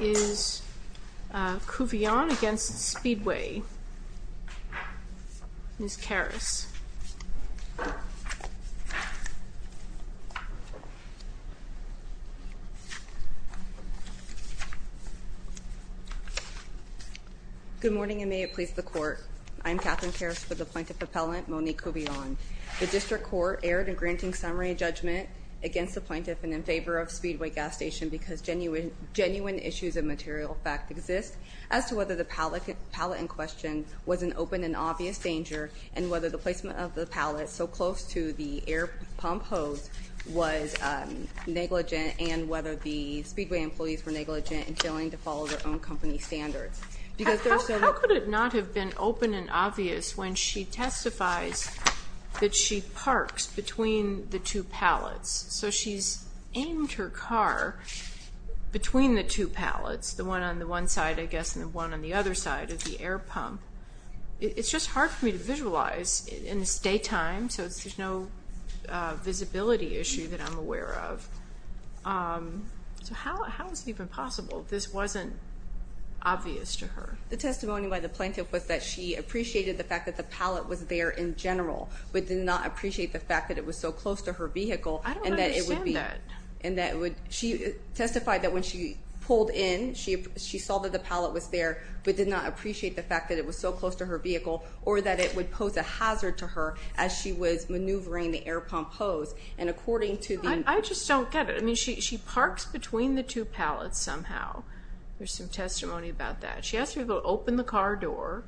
is Couvillion against Speedway. Ms. Karras. Good morning, and may it please the court. I'm Catherine Karras for the plaintiff appellant, Monique Couvillion. The district court erred in granting summary judgment against the plaintiff and in favor of Speedway gas station because genuine issues of material fact exist as to whether the pallet in question was an open and obvious danger, and whether the placement of the pallet so close to the air pump hose was negligent, and whether the Speedway employees were negligent in failing to follow their own company standards. How could it not have been open and obvious when she testifies that she parks between the two pallets? So she's aimed her car between the two pallets, the one on the one side, I guess, and the one on the other side of the air pump. It's just hard for me to visualize in this daytime, so there's no visibility issue that I'm aware of. So how is it even possible this wasn't obvious to her? The testimony by the plaintiff was that she appreciated the fact that the pallet was there in general, but did not appreciate the fact that it was so close to her vehicle. I don't understand that. And that she testified that when she pulled in, she saw that the pallet was there, but did not appreciate the fact that it was so close to her vehicle, or that it would pose a hazard to her as she was maneuvering the air pump hose. And according to the- I just don't get it. I mean, she parks between the two pallets somehow. There's some testimony about that. She asked her to open the car door,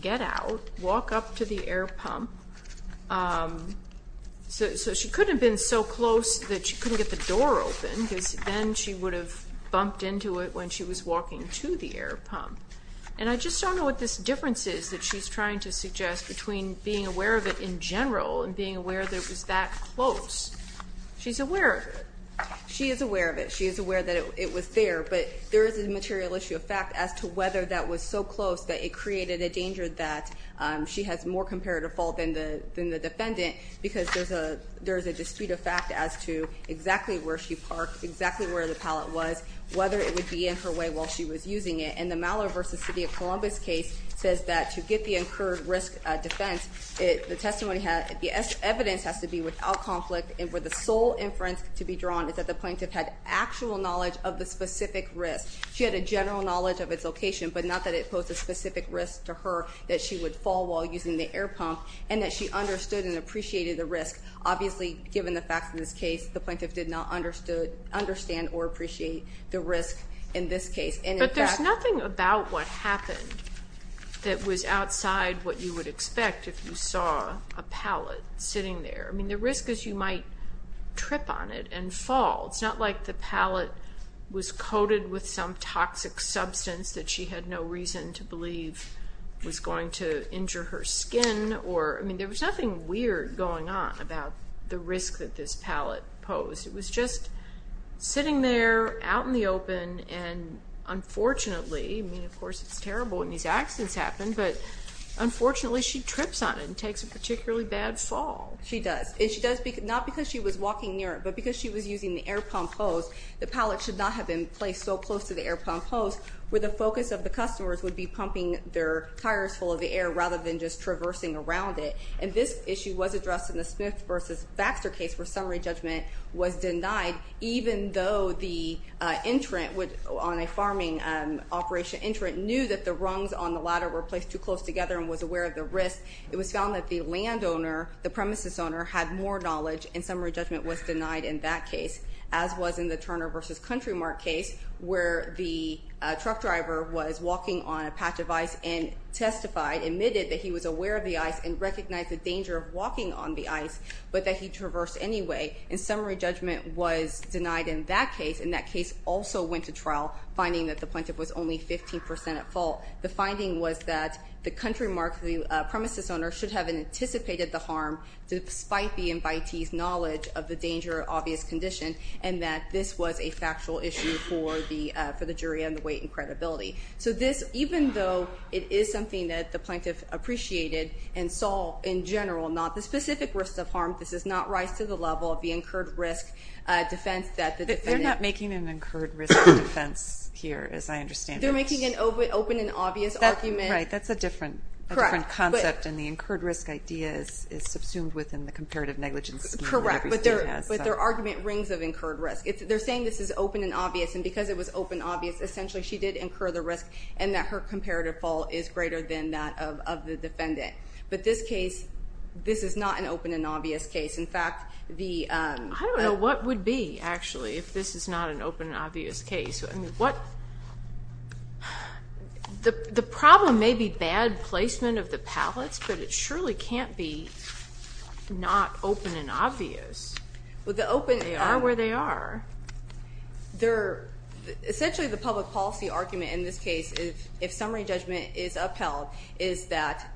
get out, walk up to the air pump. So she could have been so close that she couldn't get the door open, because then she would have bumped into it when she was walking to the air pump. And I just don't know what this difference is that she's trying to suggest between being aware of it in general and being aware that it was that close. She's aware of it. She is aware of it. She is aware that it was there, but there is a material issue of fact as to whether that was so close that it created a danger that she has more comparative fault than the defendant, because there's a dispute of fact as to exactly where she parked, exactly where the pallet was, whether it would be in her way while she was using it. And the Mallard v. City of Columbus case says that to get the incurred risk defense, the testimony has- the evidence has to be without conflict, and where the sole inference to be drawn is that the plaintiff had actual knowledge of the specific risk. She had a general knowledge of its location, but not that it posed a specific risk to her that she would fall while using the air pump. And that she understood and appreciated the risk. Obviously, given the facts in this case, the plaintiff did not understand or appreciate the risk in this case. But there's nothing about what happened that was outside what you would expect if you saw a pallet sitting there. I mean, the risk is you might trip on it and fall. It's not like the pallet was coated with some toxic substance that she had no reason to believe was going to injure her skin or- I mean, there was nothing weird going on about the risk that this pallet posed. It was just sitting there out in the open, and unfortunately, I mean, of course, it's terrible when these accidents happen, but unfortunately, she trips on it and takes a particularly bad fall. She does. And she does not because she was walking near it, but because she was using the air pump hose. The pallet should not have been placed so close to the air pump hose, where the focus of the customers would be pumping their tires full of the air rather than just traversing around it. And this issue was addressed in the Smith versus Baxter case where summary judgment was denied, even though the entrant on a farming operation entrant knew that the rungs on the ladder were placed too close together and was aware of the risk. It was found that the landowner, the premises owner, had more knowledge, and summary judgment was denied in that case, as was in the Turner versus Countrymark case, where the truck driver was walking on a patch of ice and testified, admitted that he was aware of the ice and recognized the danger of walking on the ice, but that he traversed anyway. And summary judgment was denied in that case, and that case also went to trial, finding that the plaintiff was only 15% at fault. The finding was that the Countrymark premises owner should have anticipated the harm despite the invitee's knowledge of the danger or obvious condition, and that this was a factual issue for the jury on the weight and credibility. So this, even though it is something that the plaintiff appreciated and saw in general, not the specific risk of harm, this does not rise to the level of the incurred risk defense that the defendant. They're not making an incurred risk defense here, as I understand it. They're making an open and obvious argument. Right, that's a different concept, and the incurred risk idea is subsumed within the comparative negligence scheme that every state has. But their argument rings of incurred risk. They're saying this is open and obvious, and because it was open and obvious, essentially she did incur the risk, and that her comparative fault is greater than that of the defendant. But this case, this is not an open and obvious case. In fact, the- I don't know what would be, actually, if this is not an open and obvious case. but it surely can't be not open and obvious. They are where they are. Essentially, the public policy argument in this case, if summary judgment is upheld, is that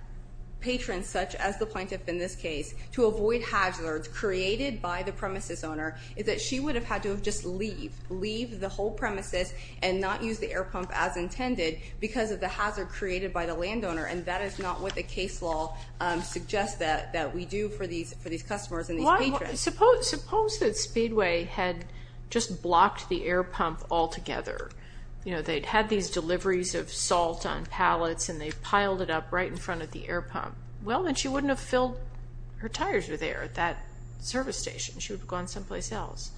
patrons, such as the plaintiff in this case, to avoid hazards created by the premises owner, is that she would have had to have just leave, leave the whole premises, and not use the air pump as intended because of the hazard created by the landowner, and that is not what the case law suggests that we do for these customers and these patrons. Suppose that Speedway had just blocked the air pump altogether. They'd had these deliveries of salt on pallets, and they piled it up right in front of the air pump. Well, then she wouldn't have filled, her tires were there at that service station. She would have gone someplace else.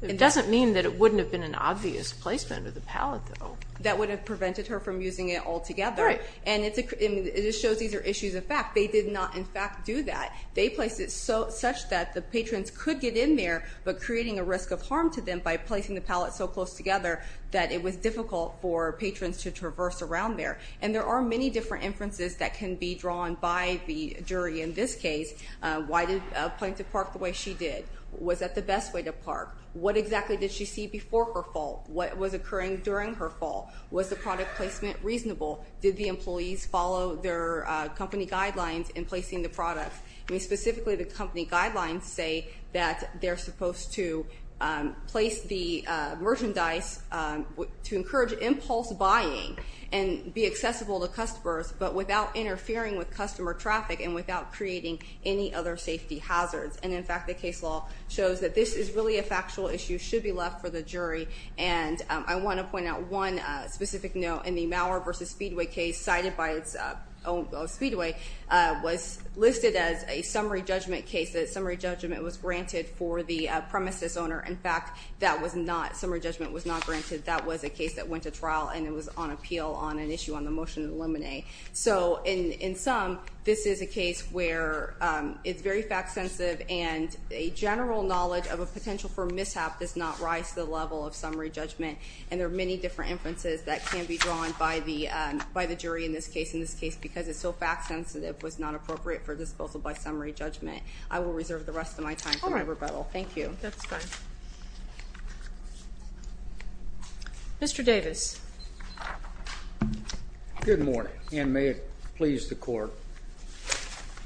It doesn't mean that it wouldn't have been an obvious placement of the pallet, though. That would have prevented her from using it altogether, and it just shows these are issues of fact. They did not, in fact, do that. They placed it such that the patrons could get in there, but creating a risk of harm to them by placing the pallet so close together that it was difficult for patrons to traverse around there, and there are many different inferences that can be drawn by the jury in this case. Why did a plaintiff park the way she did? Was that the best way to park? What exactly did she see before her fall? What was occurring during her fall? Was the product placement reasonable? Did the employees follow their company guidelines in placing the product? I mean, specifically, the company guidelines say that they're supposed to place the merchandise to encourage impulse buying and be accessible to customers, but without interfering with customer traffic and without creating any other safety hazards, and in fact, the case law shows that this is really a factual issue, should be left for the jury, and I wanna point out one specific note in the Maurer versus Speedway case, cited by Speedway, was listed as a summary judgment case, that summary judgment was granted for the premises owner. In fact, that was not, summary judgment was not granted. That was a case that went to trial and it was on appeal on an issue on the motion to eliminate. So in sum, this is a case where it's very fact-sensitive and a general knowledge of a potential for mishap does not rise to the level of summary judgment, and there are many different inferences that can be drawn by the jury in this case. In this case, because it's so fact-sensitive, was not appropriate for disposal by summary judgment. I will reserve the rest of my time for my rebuttal. Thank you. That's fine. Mr. Davis. Good morning, and may it please the court,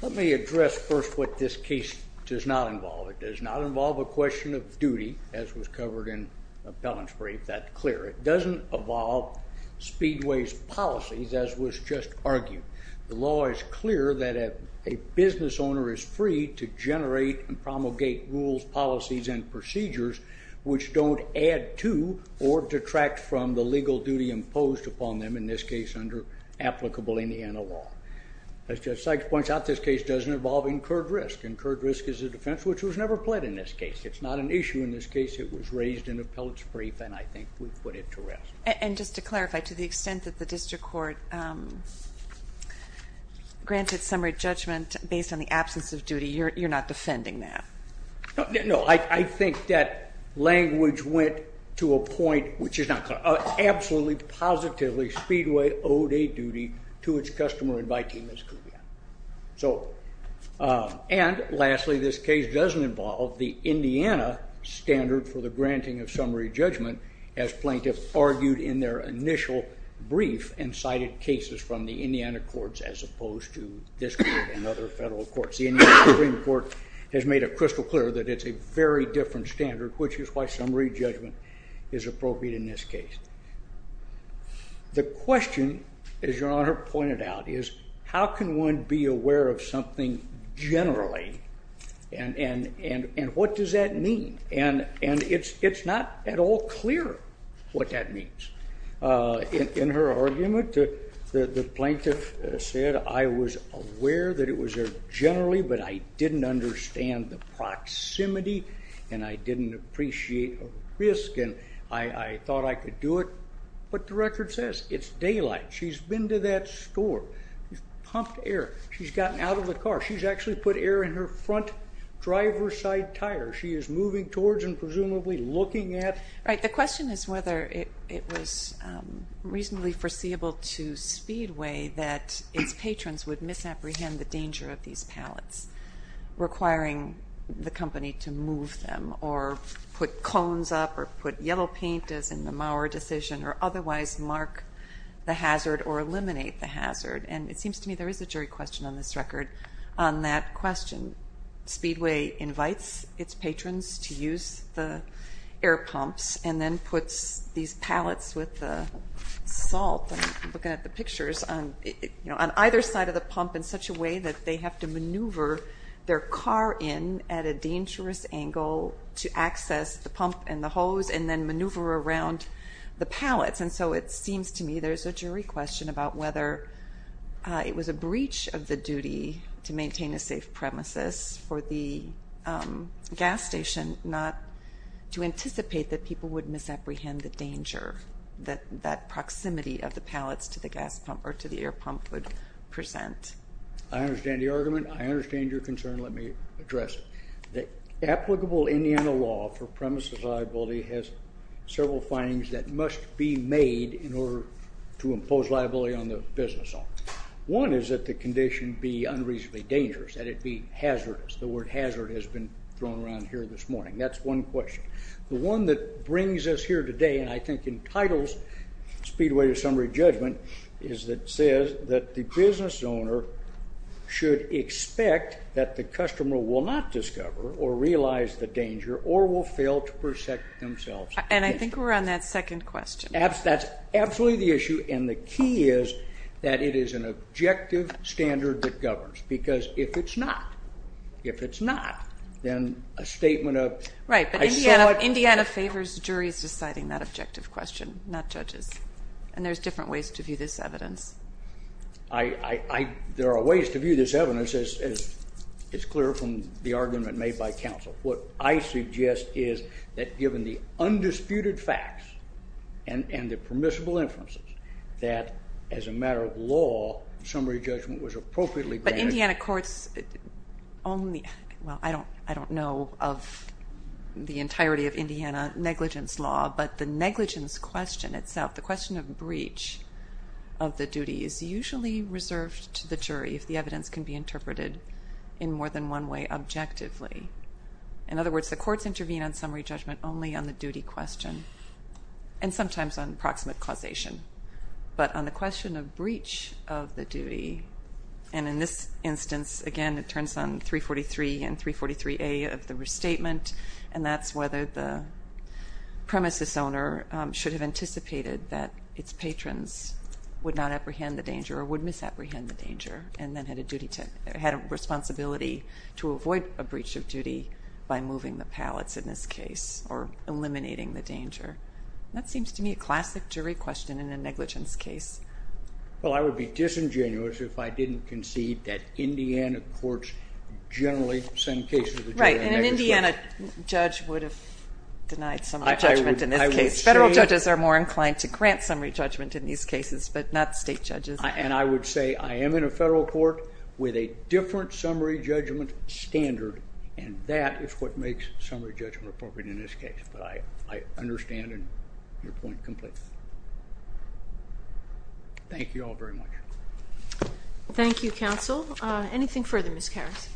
let me address first what this case does not involve. It does not involve a question of duty, as was covered in appellant's brief, that's clear. It doesn't involve speedways policies, as was just argued. The law is clear that a business owner is free to generate and promulgate rules, policies, and procedures, which don't add to or detract from the legal duty imposed upon them, in this case, under applicable Indiana law. As Jeff Sykes points out, this case doesn't involve incurred risk. Incurred risk is a defense which was never pled in this case. It's not an issue in this case. It was raised in appellant's brief, and I think we've put it to rest. And just to clarify, to the extent that the district court granted summary judgment based on the absence of duty, you're not defending that? No, I think that language went to a point which is not clear. Absolutely, positively, Speedway owed a duty to its customer in Victima's Cuvier. So, and lastly, this case doesn't involve the Indiana standard for the granting of summary judgment, as plaintiffs argued in their initial brief and cited cases from the Indiana courts as opposed to this court and other federal courts. The Indiana Supreme Court has made it crystal clear that it's a very different standard, which is why summary judgment is appropriate in this case. The question, as your honor pointed out, is how can one be aware of something generally and what does that mean? And it's not at all clear what that means. In her argument, the plaintiff said, I was aware that it was there generally, but I didn't understand the proximity and I didn't appreciate a risk and I thought I could do it, but the record says it's daylight. She's been to that store, she's pumped air, she's gotten out of the car, she's actually put air in her front driver's side tire. She is moving towards and presumably looking at. Right, the question is whether it was reasonably foreseeable to speedway that its patrons would misapprehend the danger of these pallets, requiring the company to move them or put cones up or put yellow paint, as in the Maurer decision, or otherwise mark the hazard or eliminate the hazard. And it seems to me there is a jury question on this record on that question. Speedway invites its patrons to use the air pumps and then puts these pallets with the salt and looking at the pictures on either side of the pump in such a way that they have to maneuver their car in at a dangerous angle to access the pump and the hose and then maneuver around the pallets. And so it seems to me there's a jury question about whether it was a breach of the duty to maintain a safe premises for the gas station not to anticipate that people would misapprehend the danger that that proximity of the pallets to the gas pump or to the air pump would present. I understand the argument. I understand your concern. Let me address it. The applicable Indiana law for premises liability has several findings that must be made in order to impose liability on the business owner. One is that the condition be unreasonably dangerous, that it be hazardous. The word hazard has been thrown around here this morning. That's one question. The one that brings us here today, and I think entitles Speedway to summary judgment, is that says that the business owner should expect that the customer will not discover or realize the danger or will fail to protect themselves. And I think we're on that second question. That's absolutely the issue. And the key is that it is an objective standard that governs, because if it's not, if it's not, then a statement of, I saw it. Indiana favors juries deciding that objective question, not judges. And there's different ways to view this evidence. There are ways to view this evidence, as is clear from the argument made by counsel. What I suggest is that given the undisputed facts and the permissible inferences, that as a matter of law, summary judgment was appropriately granted. But Indiana courts only, well, I don't know of the entirety of Indiana negligence law, but the negligence question itself, the question of breach of the duty, is usually reserved to the jury if the evidence can be interpreted in more than one way objectively. In other words, the courts intervene on summary judgment only on the duty question, and sometimes on proximate causation. But on the question of breach of the duty, and in this instance, again, it turns on 343 and 343A of the restatement. And that's whether the premises owner should have anticipated that its patrons would not apprehend the danger or would misapprehend the danger, and then had a duty to, had a responsibility to avoid a breach of duty by moving the pallets in this case or eliminating the danger. That seems to me a classic jury question in a negligence case. Well, I would be disingenuous if I didn't concede that Indiana courts generally send cases to the jury on negligence. Right, and an Indiana judge would have denied summary judgment in this case. Federal judges are more inclined to grant summary judgment in these cases, but not state judges. And I would say I am in a federal court with a different summary judgment standard, and that is what makes summary judgment appropriate in this case. But I understand your point completely. Thank you all very much. Thank you, counsel. Anything further, Ms. Karras?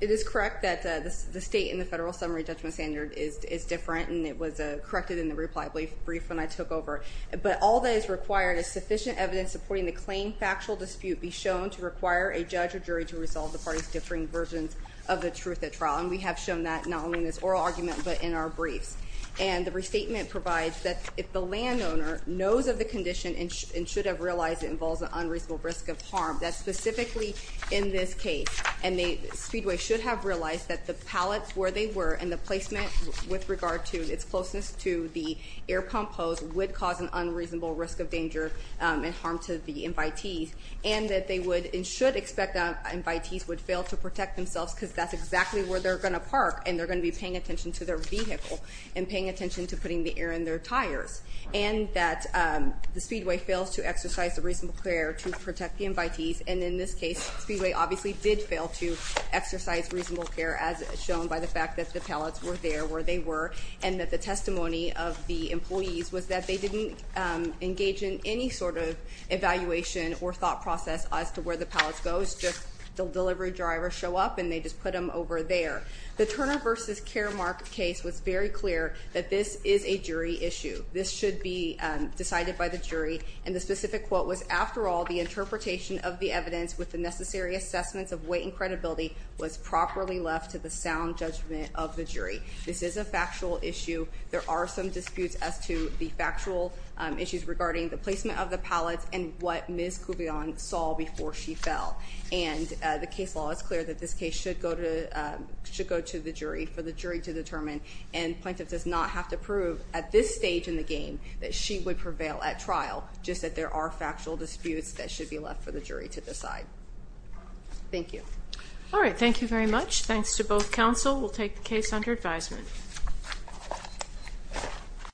It is correct that the state and the federal summary judgment standard is different, and it was corrected in the reply brief when I took over. But all that is required is sufficient evidence supporting the claim factual dispute be shown to require a judge or jury to resolve the parties differing versions of the truth at trial. And we have shown that not only in this oral argument, but in our briefs. And the restatement provides that if the landowner knows of the condition and should have realized it involves an unreasonable risk of harm, that specifically in this case, and Speedway should have realized that the pallets where they were and the placement with regard to its closeness to the air pump hose would cause an unreasonable risk of danger and harm to the invitees. And that they would and should expect that invitees would fail to protect themselves, because that's exactly where they're going to park, and they're going to be paying attention to their vehicle and paying attention to putting the air in their tires. And that the Speedway fails to exercise the reasonable care to protect the invitees. And in this case, Speedway obviously did fail to exercise reasonable care, as shown by the fact that the pallets were there where they were, and that the testimony of the employees was that they didn't engage in any sort of evaluation or thought process as to where the pallets goes. Just the delivery driver show up, and they just put them over there. The Turner versus Caremark case was very clear that this is a jury issue. This should be decided by the jury. And the specific quote was, after all, the interpretation of the evidence with the necessary assessments of weight and credibility was properly left to the sound judgment of the jury. This is a factual issue. There are some disputes as to the factual issues regarding the placement of the pallets and what Ms. Cuvion saw before she fell. And the case law is clear that this case should go to the jury for the jury to determine. And plaintiff does not have to prove at this stage in the game that she would prevail at trial, just that there are factual disputes that should be left for the jury to decide. Thank you. All right, thank you very much. Thanks to both counsel. We'll take the case under advisement. Thank you.